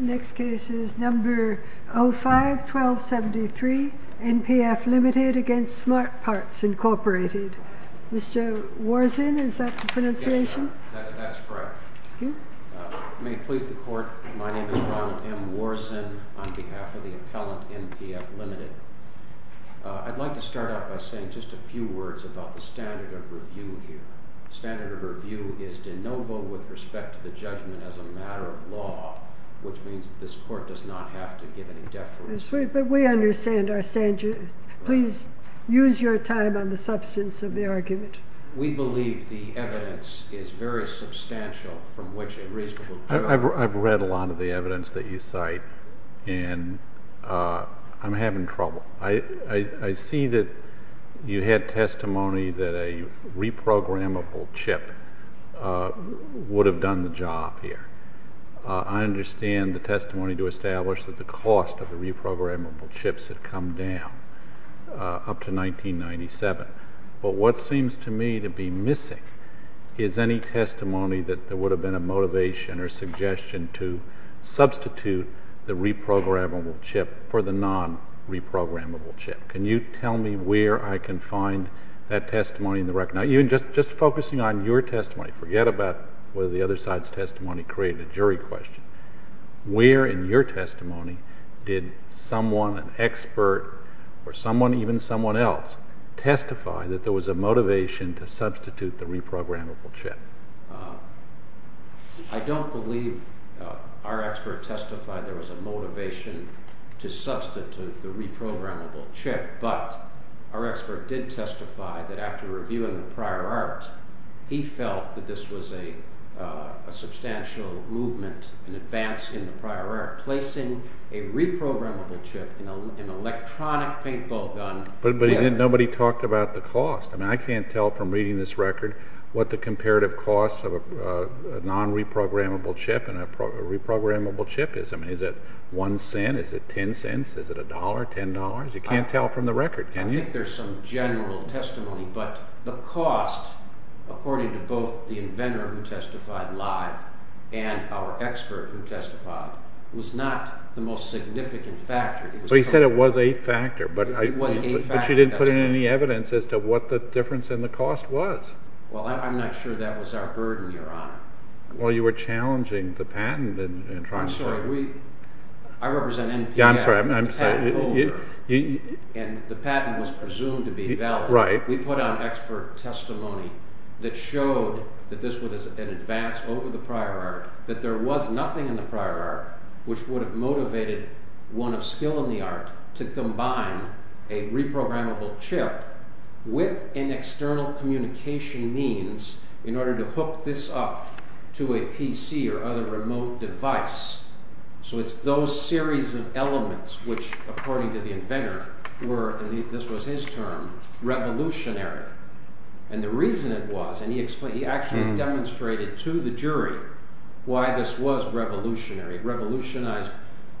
Next case is number 05-1273, NPF Ltd. v. Smart Parts, Inc. I'd like to start out by saying just a few words about the standard of review here. The standard of review is de novo with respect to the judgment as a matter of law, which means that this court does not have to give any deference to it. But we understand our standards. Please use your time on the substance of the argument. We believe the evidence is very substantial from which a reasonable judgment can be made. I've read a lot of the evidence that you cite, and I'm having trouble. I see that you had testimony that a reprogrammable chip would have done the job here. I understand the testimony to establish that the cost of the reprogrammable chips had come down up to 1997. But what seems to me to be missing is any testimony that there would have been a motivation or suggestion to substitute the reprogrammable chip for the non-reprogrammable chip. Can you tell me where I can find that testimony in the record? Now, just focusing on your testimony, forget about whether the other side's testimony created a jury question. Where in your testimony did someone, an expert, or someone, even someone else, testify that there was a motivation to substitute the reprogrammable chip? I don't believe our expert testified there was a motivation to substitute the reprogrammable chip, but our expert did testify that after reviewing the prior art, he felt that this was a substantial movement in advance in the prior art, placing a reprogrammable chip in an electronic paintball gun. But nobody talked about the cost. I can't tell from reading this record what the comparative cost of a non-reprogrammable chip and a reprogrammable chip is. Is it one cent? Is it ten cents? Is it a dollar? Ten dollars? You can't tell from the record, can you? I think there's some general testimony, but the cost, according to both the inventor who testified live and our expert who testified, was not the most significant factor. But he said it was a factor, but you didn't put in any evidence as to what the difference in the cost was. Well, I'm not sure that was our burden, Your Honor. Well, you were challenging the patent. I'm sorry. I represent NPF, the patent holder, and the patent was presumed to be valid. We put out expert testimony that showed that this was an advance over the prior art, that there was nothing in the prior art which would have motivated one of skill in the art to combine a reprogrammable chip with an external communication means in order to hook this up to a PC or other remote device. So it's those series of elements which, according to the inventor, were, and this was his term, revolutionary. And the reason it was, and he actually demonstrated to the jury why this was revolutionary. It revolutionized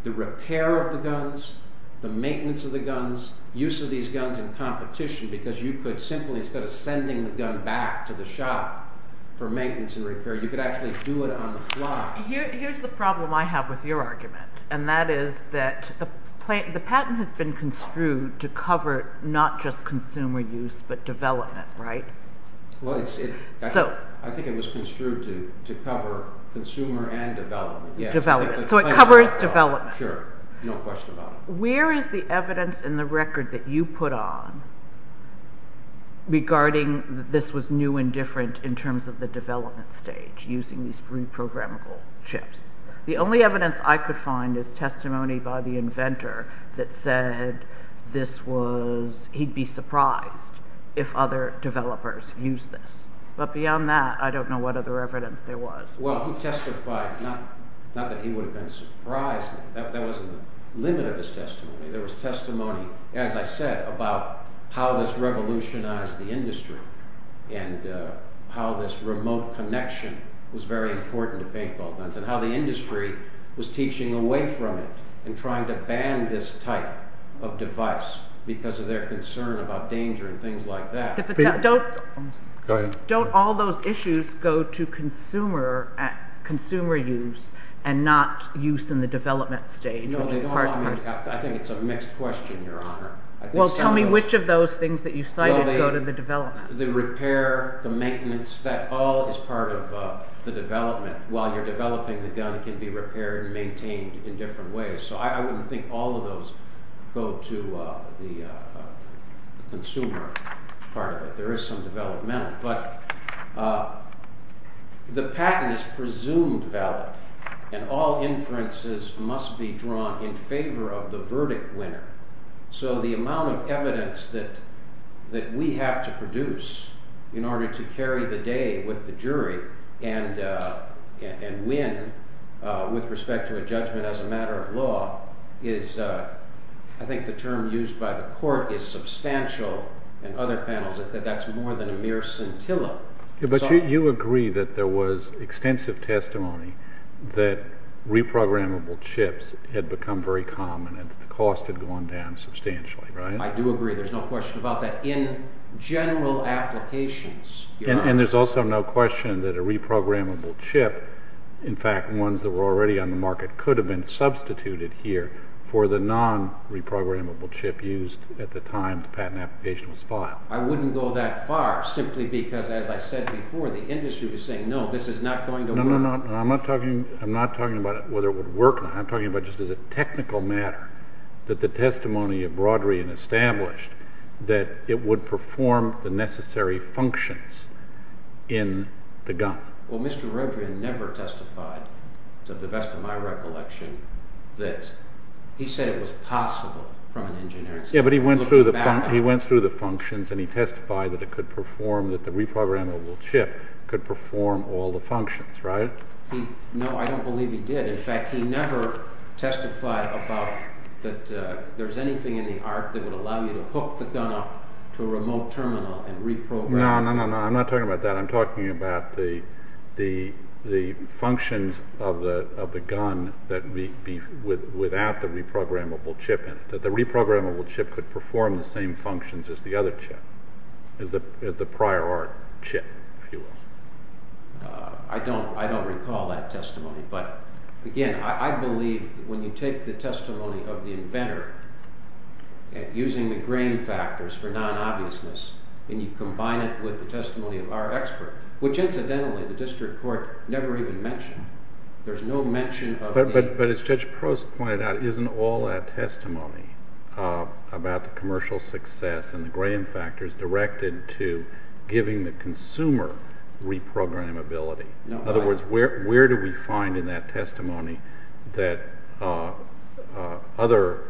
the repair of the guns, the maintenance of the guns, use of these guns in competition, because you could simply, instead of sending the gun back to the shop for maintenance and repair, you could actually do it on the fly. Here's the problem I have with your argument, and that is that the patent has been construed to cover not just consumer use but development, right? Well, I think it was construed to cover consumer and development. Development. So it covers development. Sure. No question about it. Where is the evidence in the record that you put on regarding that this was new and different in terms of the development stage, using these reprogrammable chips? The only evidence I could find is testimony by the inventor that said this was, he'd be surprised if other developers used this. But beyond that, I don't know what other evidence there was. Well, he testified, not that he would have been surprised. That wasn't the limit of his testimony. There was testimony, as I said, about how this revolutionized the industry and how this remote connection was very important to paintball guns and how the industry was teaching away from it and trying to ban this type of device because of their concern about danger and things like that. Go ahead. Don't all those issues go to consumer use and not use in the development stage? No, they don't. I think it's a mixed question, Your Honor. Well, tell me which of those things that you cited go to the development. The repair, the maintenance, that all is part of the development. While you're developing the gun, it can be repaired and maintained in different ways. So I wouldn't think all of those go to the consumer part of it. There is some developmental, but the patent is presumed valid, and all inferences must be drawn in favor of the verdict winner. So the amount of evidence that we have to produce in order to carry the day with the jury and win with respect to a judgment as a matter of law is, I think the term used by the court is substantial in other panels, is that that's more than a mere scintilla. But you agree that there was extensive testimony that reprogrammable chips had become very common and the cost had gone down substantially, right? I do agree. There's no question about that. In general applications, Your Honor. And there's also no question that a reprogrammable chip, in fact ones that were already on the market could have been substituted here for the non-reprogrammable chip used at the time the patent application was filed. I wouldn't go that far simply because, as I said before, the industry was saying, no, this is not going to work. No, no, no. I'm not talking about whether it would work or not. I'm talking about just as a technical matter that the testimony of Brodery and established that it would perform the necessary functions in the gun. Well, Mr. Rodrian never testified, to the best of my recollection, that he said it was possible from an engineering standpoint. Yeah, but he went through the functions and he testified that it could perform, that the reprogrammable chip could perform all the functions, right? No, I don't believe he did. In fact, he never testified about that there's anything in the art that would allow you to hook the gun up to a remote terminal and reprogram it. No, no, no. I'm not talking about that. I'm talking about the functions of the gun without the reprogrammable chip in it, that the reprogrammable chip could perform the same functions as the other chip, as the prior art chip, if you will. I don't recall that testimony. But, again, I believe when you take the testimony of the inventor and using the grain factors for non-obviousness, and you combine it with the testimony of our expert, which incidentally the district court never even mentioned. There's no mention of the— But as Judge Prost pointed out, isn't all that testimony about the commercial success and the grain factors directed to giving the consumer reprogrammability? In other words, where do we find in that testimony that other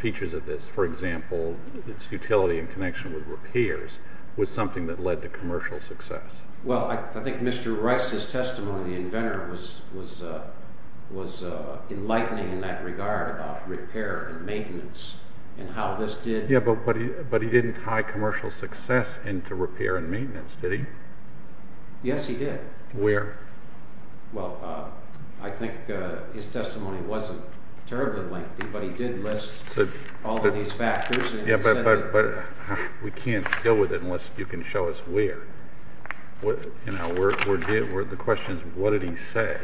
features of this, for example, its utility in connection with repairs, was something that led to commercial success? Well, I think Mr. Rice's testimony, the inventor, was enlightening in that regard about repair and maintenance and how this did— Yeah, but he didn't tie commercial success into repair and maintenance, did he? Yes, he did. Where? Well, I think his testimony wasn't terribly lengthy, but he did list all of these factors. Yeah, but we can't deal with it unless you can show us where. The question is, what did he say?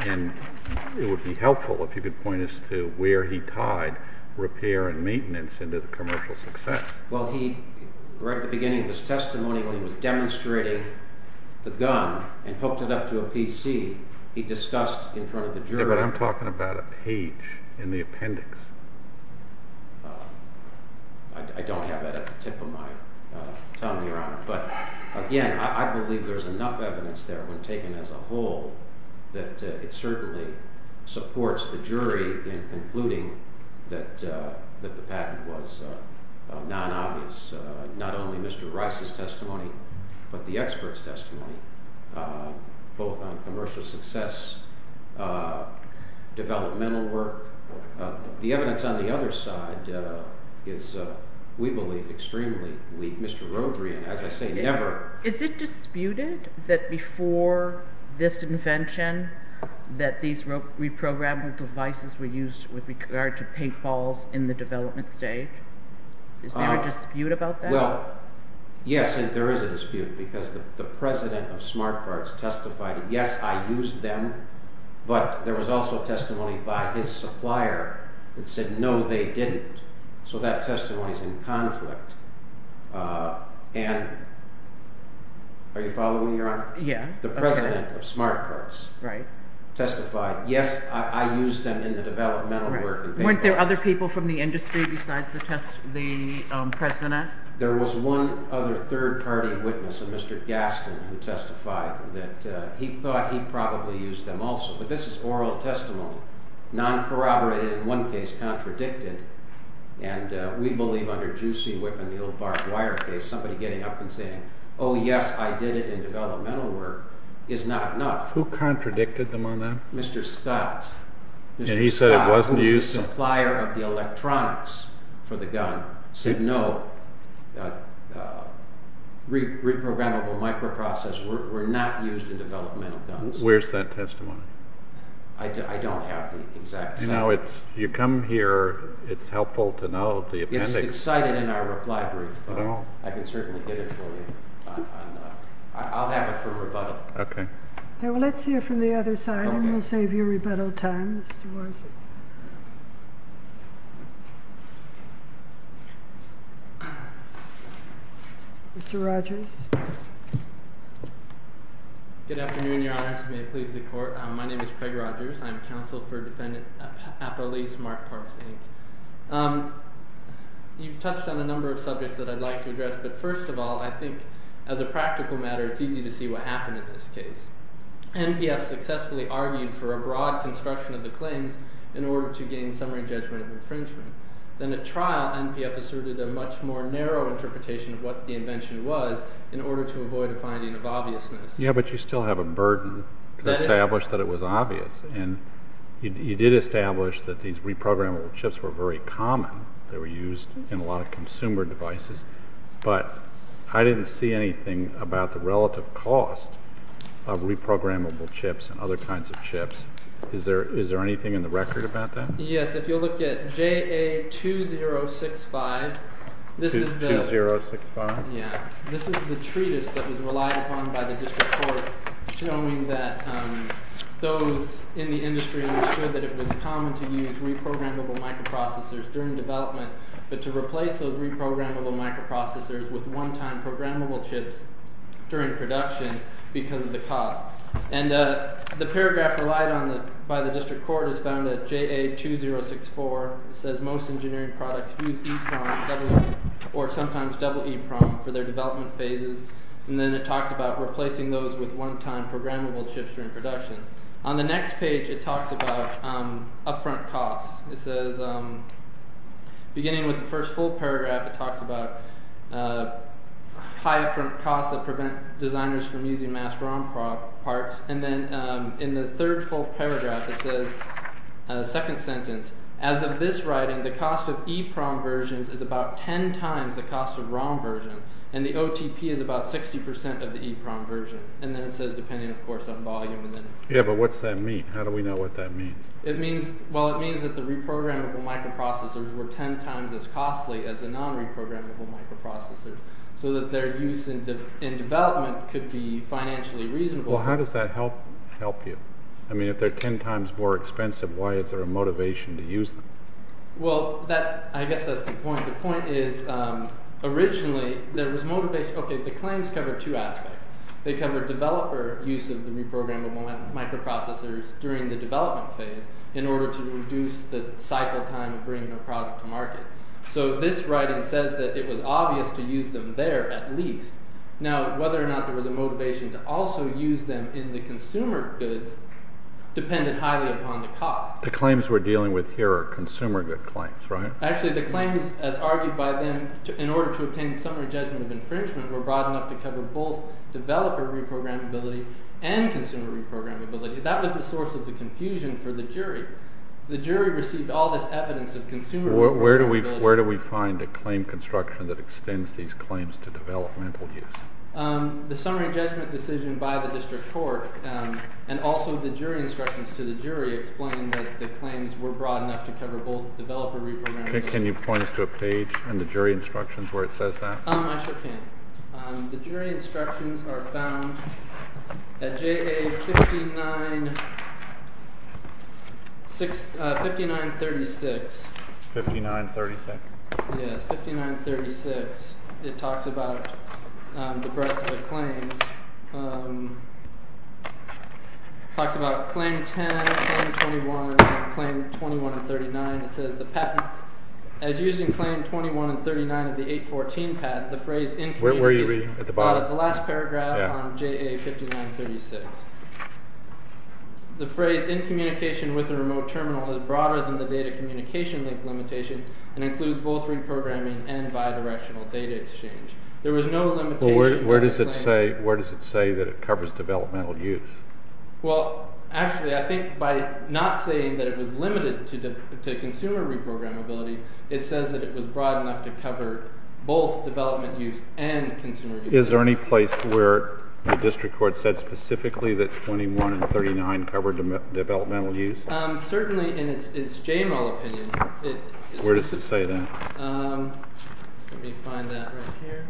And it would be helpful if you could point us to where he tied repair and maintenance into the commercial success. Well, he—right at the beginning of his testimony, when he was demonstrating the gun and hooked it up to a PC, he discussed in front of the jury— Yeah, but I'm talking about a page in the appendix. I don't have that at the tip of my tongue, Your Honor. But again, I believe there's enough evidence there when taken as a whole that it certainly supports the jury in concluding that the patent was non-obvious, not only Mr. Rice's testimony, but the expert's testimony, both on commercial success, developmental work. The evidence on the other side is, we believe, extremely weak. Mr. Rodrian, as I say, never— that these reprogrammable devices were used with regard to paintballs in the development stage. Is there a dispute about that? Well, yes, there is a dispute, because the president of SmartParts testified, yes, I used them, but there was also testimony by his supplier that said, no, they didn't. So that testimony's in conflict. Are you following me, Your Honor? Yeah. The president of SmartParts testified, yes, I used them in the developmental work. Weren't there other people from the industry besides the president? There was one other third-party witness, a Mr. Gaston, who testified that he thought he probably used them also, but this is oral testimony, non-corroborated in one case, contradicted, and we believe under Juicy Whip and the old barbed wire case, somebody getting up and saying, oh, yes, I did it in developmental work, is not enough. Who contradicted them on that? Mr. Scott. And he said it wasn't used? The supplier of the electronics for the gun said, no, reprogrammable microprocessors were not used in developmental guns. Where's that testimony? I don't have the exact— You know, you come here, it's helpful to know the appendix— I can certainly get it for you. I'll have it for rebuttal. Okay. Let's hear from the other side, and we'll save you rebuttal time. Mr. Rogers. Good afternoon, Your Honors. May it please the Court. My name is Craig Rogers. I'm counsel for Defendant Appelese, SmartParts, Inc. You've touched on a number of subjects that I'd like to address, but first of all, I think as a practical matter, it's easy to see what happened in this case. NPF successfully argued for a broad construction of the claims in order to gain summary judgment of infringement. Then at trial, NPF asserted a much more narrow interpretation of what the invention was in order to avoid a finding of obviousness. Yeah, but you still have a burden to establish that it was obvious, and you did establish that these reprogrammable chips were very common. They were used in a lot of consumer devices, but I didn't see anything about the relative cost of reprogrammable chips and other kinds of chips. Is there anything in the record about that? Yes. If you'll look at JA2065, this is the... JA2065? Yeah. This is the treatise that was relied upon by the district court showing that those in the industry understood that it was common to use reprogrammable microprocessors during development, but to replace those reprogrammable microprocessors with one-time programmable chips during production because of the cost. And the paragraph relied on by the district court is found at JA2064. It says most engineering products use EEPROM, or sometimes double EEPROM for their development phases. And then it talks about replacing those with one-time programmable chips during production. On the next page, it talks about upfront costs. It says, beginning with the first full paragraph, it talks about high upfront costs that prevent designers from using mass ROM parts. And then in the third full paragraph, it says, second sentence, as of this writing, the cost of EEPROM versions is about ten times the cost of ROM version, and the OTP is about 60% of the EEPROM version. And then it says, depending, of course, on volume. Yeah, but what does that mean? How do we know what that means? Well, it means that the reprogrammable microprocessors were ten times as costly as the non-reprogrammable microprocessors, so that their use in development could be financially reasonable. Well, how does that help you? I mean, if they're ten times more expensive, why is there a motivation to use them? Well, I guess that's the point. The point is, originally, there was motivation. Okay, the claims cover two aspects. They cover developer use of the reprogrammable microprocessors during the development phase in order to reduce the cycle time of bringing a product to market. So this writing says that it was obvious to use them there at least. Now, whether or not there was a motivation to also use them in the consumer goods depended highly upon the cost. The claims we're dealing with here are consumer good claims, right? Actually, the claims, as argued by them, in order to obtain summary judgment of infringement, were broad enough to cover both developer reprogrammability and consumer reprogrammability. That was the source of the confusion for the jury. The jury received all this evidence of consumer reprogrammability. Where do we find a claim construction that extends these claims to developmental use? The summary judgment decision by the district court and also the jury instructions to the jury explain that the claims were broad enough to cover both developer reprogrammability. Can you point us to a page in the jury instructions where it says that? I sure can. The jury instructions are found at JA 5936. 5936? Yes, 5936. It talks about the breadth of the claims. It talks about Claim 10, Claim 21, and Claim 21 and 39. It says the patent, as used in Claim 21 and 39 of the 814 patent, the phrase in communication Where are you reading at the bottom? The last paragraph on JA 5936. The phrase in communication with a remote terminal is broader than the data communication link limitation and includes both reprogramming and bidirectional data exchange. Where does it say that it covers developmental use? Well, actually, I think by not saying that it was limited to consumer reprogrammability, it says that it was broad enough to cover both development use and consumer use. Is there any place where the district court said specifically that 21 and 39 covered developmental use? Certainly in its JML opinion. Where does it say that? Let me find that right here.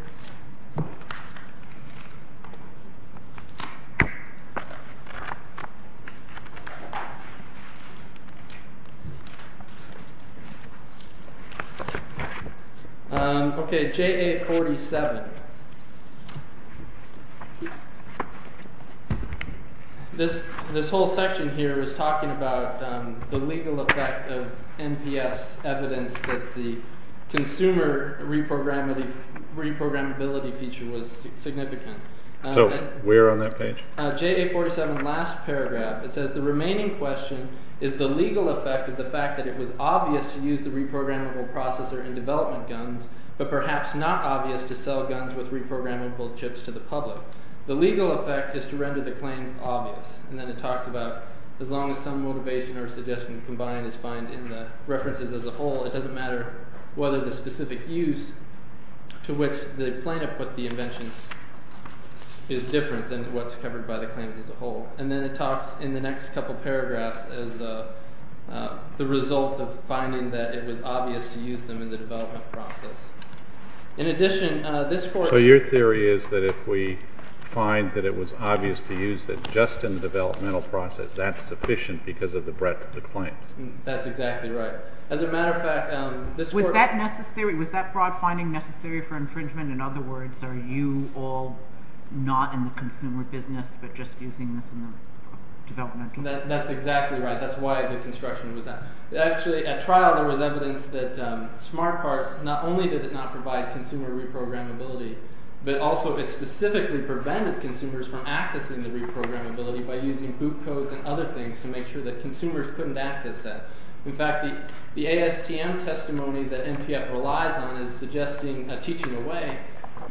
Okay, JA 47. This whole section here is talking about the legal effect of NPS evidence that the consumer reprogrammability feature was significant. So, where on that page? JA 47, last paragraph. It says the remaining question is the legal effect of the fact that it was obvious to use the reprogrammable processor in development guns but perhaps not obvious to sell guns with reprogrammable chips to the public. The legal effect is to render the claims obvious. And then it talks about as long as some motivation or suggestion combined is found in the references as a whole, it doesn't matter whether the specific use to which the plaintiff put the invention is different than what's covered by the claims as a whole. And then it talks in the next couple paragraphs as the result of finding that it was obvious to use them in the development process. In addition, this court— So your theory is that if we find that it was obvious to use it just in the developmental process, that's sufficient because of the breadth of the claims? That's exactly right. As a matter of fact, this court— Was that necessary? Was that broad finding necessary for infringement? In other words, are you all not in the consumer business but just using this in the developmental? That's exactly right. That's why the construction was that. Actually, at trial there was evidence that smart parts, not only did it not provide consumer reprogrammability, but also it specifically prevented consumers from accessing the reprogrammability by using boot codes and other things to make sure that consumers couldn't access that. In fact, the ASTM testimony that NPF relies on as suggesting a teaching away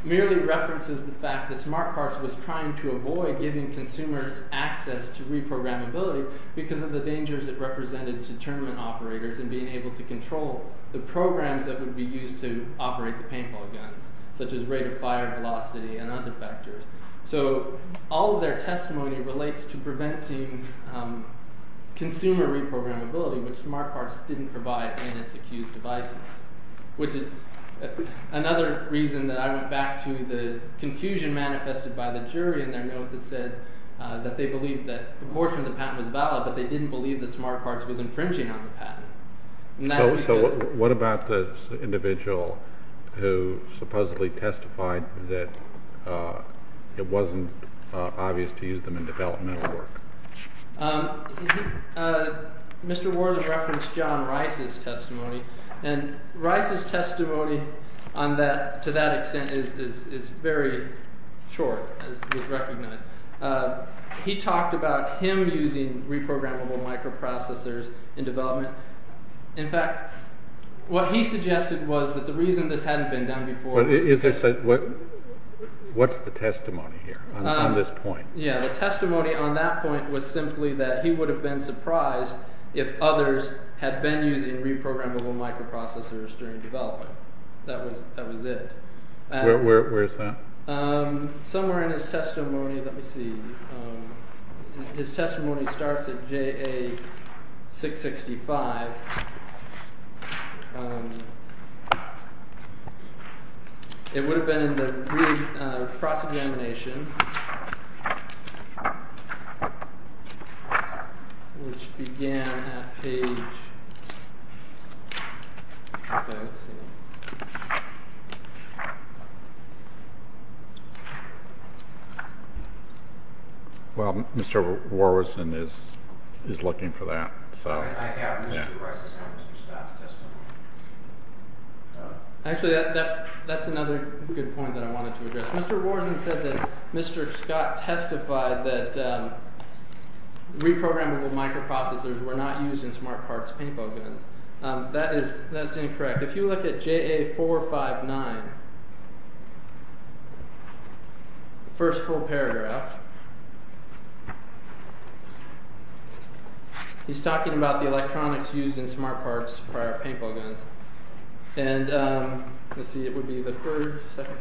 merely references the fact that smart parts was trying to avoid giving consumers access to reprogrammability because of the dangers it represented to tournament operators in being able to control the programs that would be used to operate the paintball guns, such as rate of fire, velocity, and other factors. So all of their testimony relates to preventing consumer reprogrammability, which smart parts didn't provide in its accused devices, which is another reason that I went back to the confusion manifested by the jury in their note that said that they believed that a portion of the patent was valid, but they didn't believe that smart parts was infringing on the patent. So what about the individual who supposedly testified that it wasn't obvious to use them in developmental work? Mr. Wharton referenced John Rice's testimony, and Rice's testimony to that extent is very short, as was recognized. He talked about him using reprogrammable microprocessors in development. In fact, what he suggested was that the reason this hadn't been done before… What's the testimony here on this point? Yeah, the testimony on that point was simply that he would have been surprised if others had been using reprogrammable microprocessors during development. That was it. Where is that? Somewhere in his testimony. Let me see. His testimony starts at JA 665. It would have been in the cross-examination, which began at page… Well, Mr. Warwison is looking for that. I have Mr. Rice's and Mr. Scott's testimony. Actually, that's another good point that I wanted to address. Mr. Warwison said that Mr. Scott testified that reprogrammable microprocessors were not used in smart parts paintball guns. That is incorrect. If you look at JA 459, first full paragraph, he's talking about the electronics used in smart parts paintball guns. Let's see, it would be the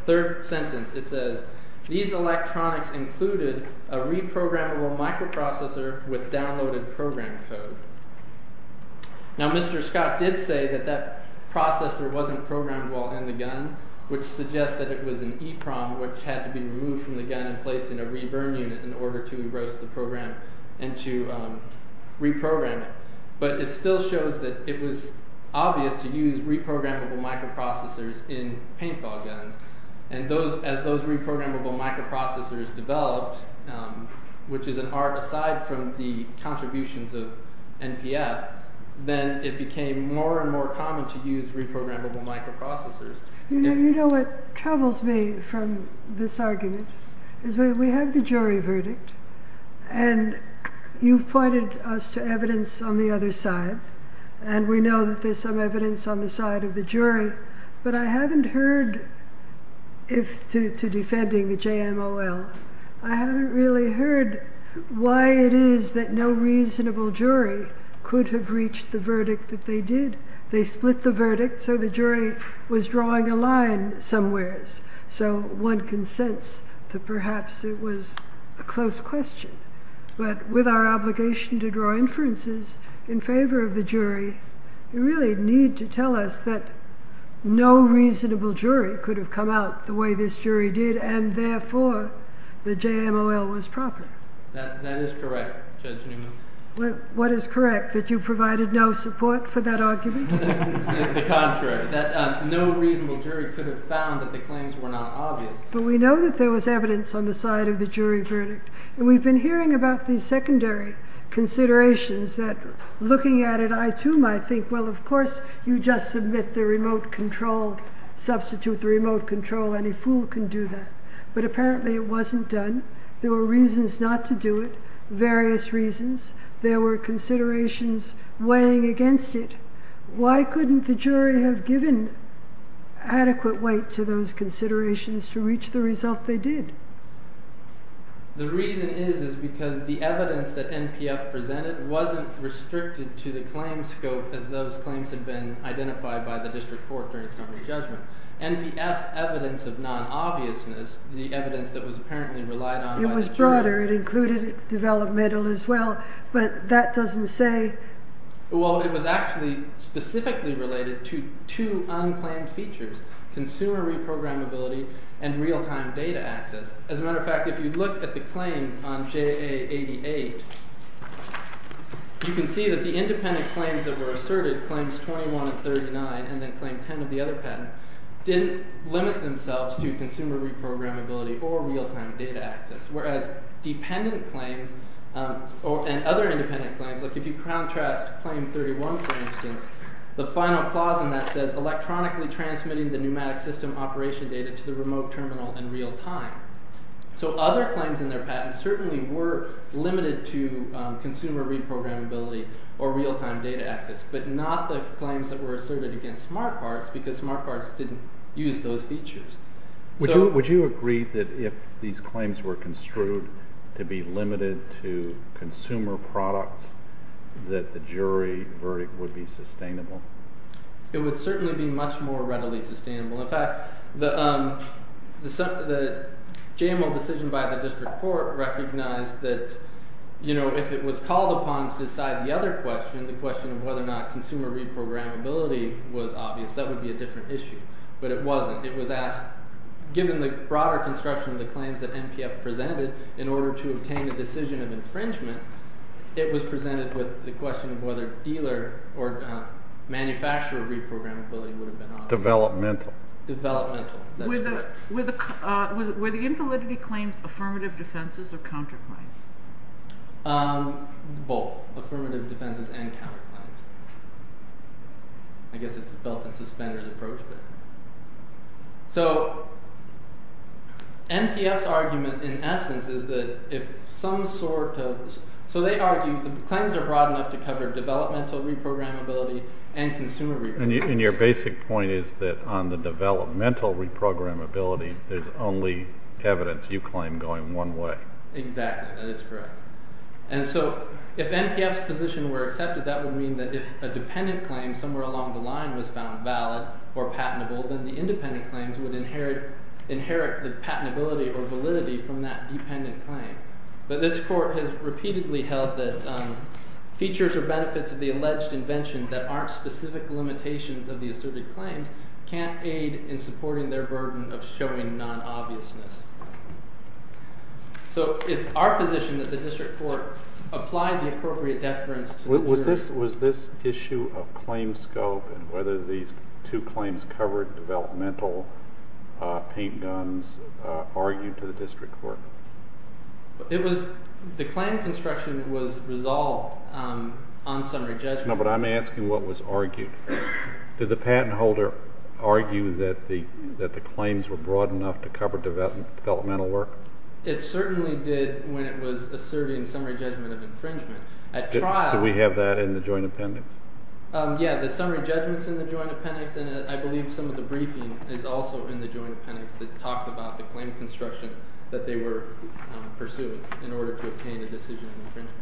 third sentence. It says, these electronics included a reprogrammable microprocessor with downloaded program code. Now, Mr. Scott did say that that processor wasn't programmed well in the gun, which suggests that it was an EPROM, which had to be removed from the gun and placed in a re-burn unit in order to erose the program and to reprogram it. But it still shows that it was obvious to use reprogrammable microprocessors in paintball guns. As those reprogrammable microprocessors developed, which is an art aside from the contributions of NPF, then it became more and more common to use reprogrammable microprocessors. You know what troubles me from this argument? We have the jury verdict, and you've pointed us to evidence on the other side, and we know that there's some evidence on the side of the jury, but I haven't heard, if to defending the JMOL, I haven't really heard why it is that no reasonable jury could have reached the verdict that they did. They split the verdict, so the jury was drawing a line somewhere, so one can sense that perhaps it was a close question. But with our obligation to draw inferences in favor of the jury, you really need to tell us that no reasonable jury could have come out the way this jury did, and therefore the JMOL was proper. That is correct, Judge Newman. What is correct, that you provided no support for that argument? The contrary, that no reasonable jury could have found that the claims were not obvious. But we know that there was evidence on the side of the jury verdict, and we've been hearing about these secondary considerations that, looking at it, I too might think, well, of course, you just submit the remote control, substitute the remote control, any fool can do that. But apparently it wasn't done. There were reasons not to do it, various reasons. There were considerations weighing against it. Why couldn't the jury have given adequate weight to those considerations to reach the result they did? The reason is because the evidence that NPF presented wasn't restricted to the claim scope as those claims had been identified by the district court during summary judgment. NPF's evidence of non-obviousness, the evidence that was apparently relied on by the jury... It was broader. It included developmental as well. But that doesn't say... Well, it was actually specifically related to two unclaimed features, consumer reprogrammability and real-time data access. As a matter of fact, if you look at the claims on JA88, you can see that the independent claims that were asserted, claims 21 and 39, and then claim 10 of the other patent, didn't limit themselves to consumer reprogrammability or real-time data access. Whereas dependent claims and other independent claims, like if you contrast claim 31, for instance, the final clause in that says electronically transmitting the pneumatic system operation data to the remote terminal in real time. So other claims in their patents certainly were limited to consumer reprogrammability or real-time data access, but not the claims that were asserted against smart parts because smart parts didn't use those features. Would you agree that if these claims were construed to be limited to consumer products that the jury verdict would be sustainable? It would certainly be much more readily sustainable. In fact, the JML decision by the district court recognized that if it was called upon to decide the other question, the question of whether or not consumer reprogrammability was obvious, that would be a different issue. But it wasn't. It was asked, given the broader construction of the claims that NPF presented in order to obtain a decision of infringement, it was presented with the question of whether dealer or manufacturer reprogrammability would have been obvious. Developmental. Developmental. Were the infallibility claims affirmative defenses or counterclaims? Both. Affirmative defenses and counterclaims. I guess it's a belt and suspenders approach. So NPF's argument in essence is that if some sort of – so they argue the claims are broad enough to cover developmental reprogrammability and consumer reprogrammability. And your basic point is that on the developmental reprogrammability there's only evidence you claim going one way. Exactly. That is correct. And so if NPF's position were accepted, that would mean that if a dependent claim somewhere along the line was found valid or patentable, then the independent claims would inherit the patentability or validity from that dependent claim. But this court has repeatedly held that features or benefits of the alleged invention that aren't specific limitations of the asserted claims can't aid in supporting their burden of showing non-obviousness. So it's our position that the district court apply the appropriate deference to the jury. Was this issue of claim scope and whether these two claims covered developmental paint guns argued to the district court? The claim construction was resolved on summary judgment. No, but I'm asking what was argued. Did the patent holder argue that the claims were broad enough to cover developmental work? It certainly did when it was asserting summary judgment of infringement. Do we have that in the joint appendix? Yeah, the summary judgment's in the joint appendix, and I believe some of the briefing is also in the joint appendix that talks about the claim construction that they were pursuing in order to obtain a decision on infringement.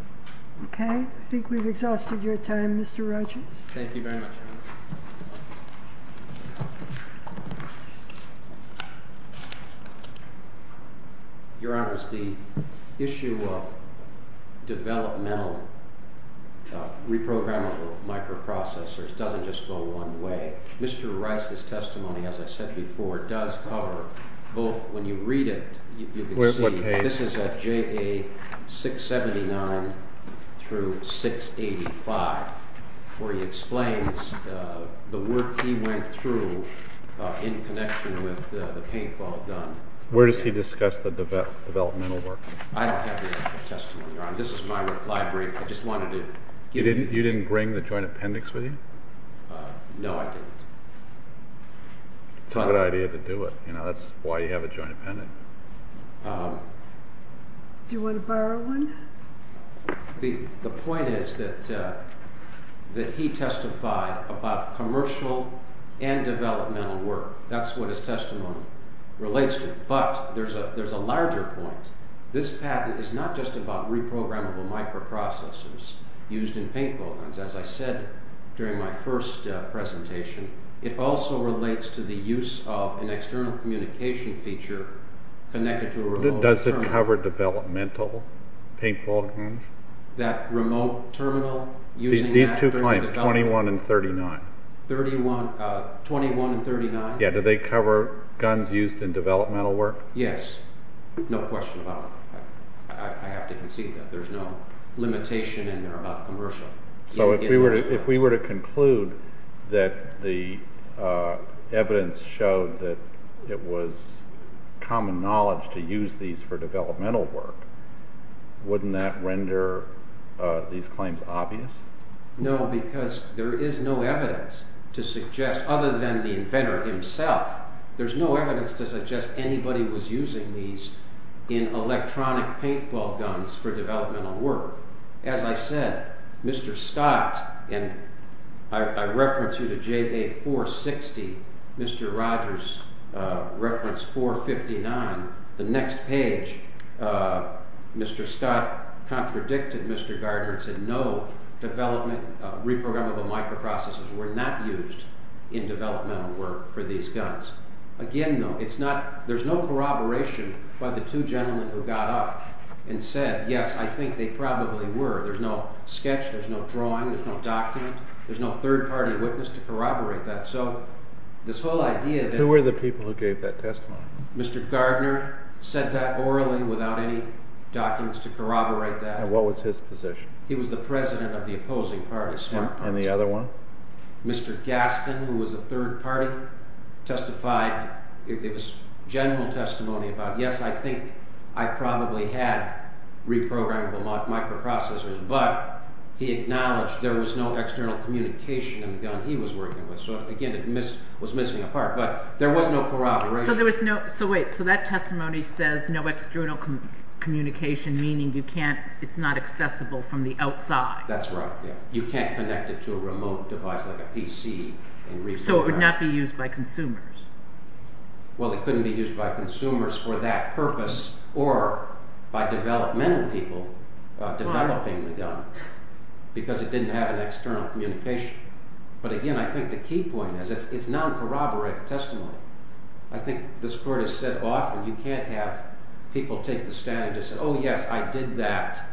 Okay. I think we've exhausted your time, Mr. Rogers. Thank you very much. Your Honor, the issue of developmental reprogrammable microprocessors doesn't just go one way. Mr. Rice's testimony, as I said before, does cover both when you read it, This is at JA679-685, where he explains the work he went through in connection with the paintball gun. Where does he discuss the developmental work? I don't have the actual testimony, Your Honor. This is my reply brief. You didn't bring the joint appendix with you? No, I didn't. It's not a good idea to do it. That's why you have a joint appendix. Do you want to borrow one? The point is that he testified about commercial and developmental work. That's what his testimony relates to. But there's a larger point. This patent is not just about reprogrammable microprocessors used in paintball guns. As I said during my first presentation, it also relates to the use of an external communication feature connected to a remote terminal. Does it cover developmental paintball guns? That remote terminal? These two clients, 21 and 39? 21 and 39? Do they cover guns used in developmental work? Yes. No question about it. I have to concede that there's no limitation in there about commercial. So if we were to conclude that the evidence showed that it was common knowledge to use these for developmental work, wouldn't that render these claims obvious? No, because there is no evidence to suggest, other than the inventor himself, there's no evidence to suggest anybody was using these in electronic paintball guns for developmental work. As I said, Mr. Scott, and I reference you to JA 460, Mr. Rogers reference 459, the next page, Mr. Scott contradicted Mr. Gardner and said no, reprogrammable microprocessors were not used in developmental work for these guns. Again, though, there's no corroboration by the two gentlemen who got up and said, yes, I think they probably were. There's no sketch, there's no drawing, there's no document, there's no third party witness to corroborate that. Who were the people who gave that testimony? Mr. Gardner said that orally without any documents to corroborate that. And what was his position? He was the president of the opposing party, Smart Party. And the other one? Mr. Gaston, who was a third party, testified. It was general testimony about, yes, I think I probably had reprogrammable microprocessors, but he acknowledged there was no external communication in the gun he was working with. So, again, it was missing a part, but there was no corroboration. So wait, so that testimony says no external communication, meaning you can't, it's not accessible from the outside. That's right. You can't connect it to a remote device like a PC. So it would not be used by consumers. Well, it couldn't be used by consumers for that purpose or by developmental people developing the gun because it didn't have an external communication. But, again, I think the key point is it's non-corroborated testimony. I think this Court has said often you can't have people take the stand and just say, oh, yes, I did that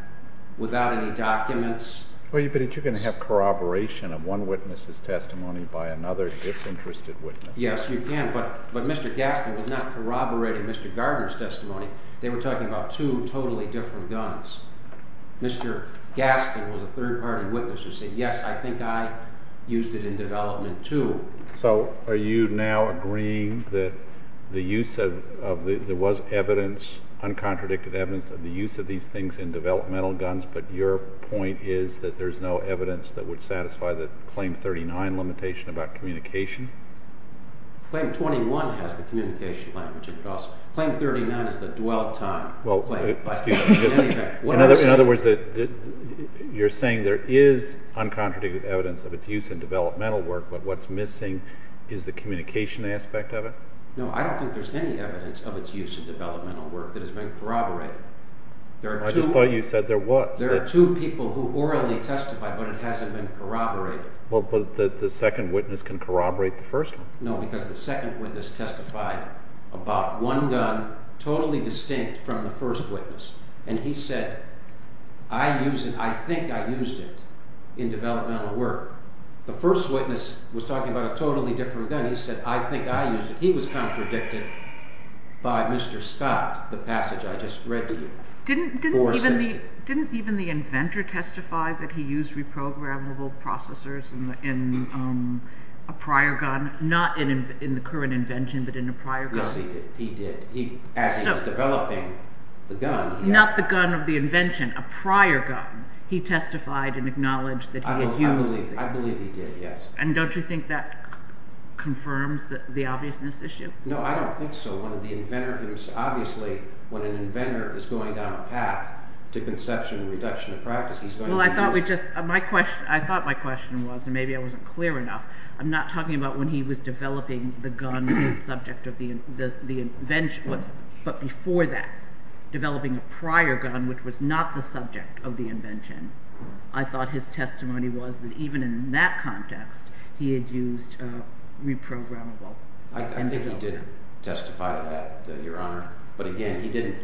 without any documents. But you're going to have corroboration of one witness's testimony by another disinterested witness. Yes, you can, but Mr. Gaston was not corroborating Mr. Gardner's testimony. They were talking about two totally different guns. Mr. Gaston was a third-party witness who said, yes, I think I used it in development too. So are you now agreeing that the use of, there was evidence, uncontradicted evidence of the use of these things in developmental guns, but your point is that there's no evidence that would satisfy the Claim 39 limitation about communication? Claim 21 has the communication language. Claim 39 is the dwell time. In other words, you're saying there is uncontradicted evidence of its use in developmental work, but what's missing is the communication aspect of it? No, I don't think there's any evidence of its use in developmental work that has been corroborated. I just thought you said there was. There are two people who orally testify, but it hasn't been corroborated. But the second witness can corroborate the first one? No, because the second witness testified about one gun totally distinct from the first witness, and he said, I think I used it in developmental work. The first witness was talking about a totally different gun. He said, I think I used it. He was contradicted by Mr. Scott, the passage I just read to you. Didn't even the inventor testify that he used reprogrammable processors in a prior gun? Not in the current invention, but in a prior gun. Yes, he did. As he was developing the gun. Not the gun of the invention, a prior gun. He testified and acknowledged that he had used it. I believe he did, yes. And don't you think that confirms the obviousness issue? No, I don't think so. Obviously, when an inventor is going down a path to conception and reduction of practice, he's going to use- I thought my question was, and maybe I wasn't clear enough. I'm not talking about when he was developing the gun, the subject of the invention, but before that. Developing a prior gun, which was not the subject of the invention. I thought his testimony was that even in that context, he had used reprogrammable. I think he did testify to that, Your Honor. But again, he didn't.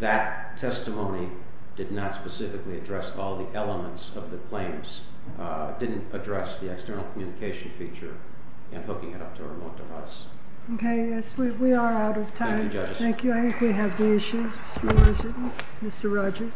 That testimony did not specifically address all the elements of the claims. It didn't address the external communication feature and hooking it up to a remote device. Okay, yes, we are out of time. Thank you, judges. Thank you. I think we have the issues, Mr. Richardson, Mr. Rogers.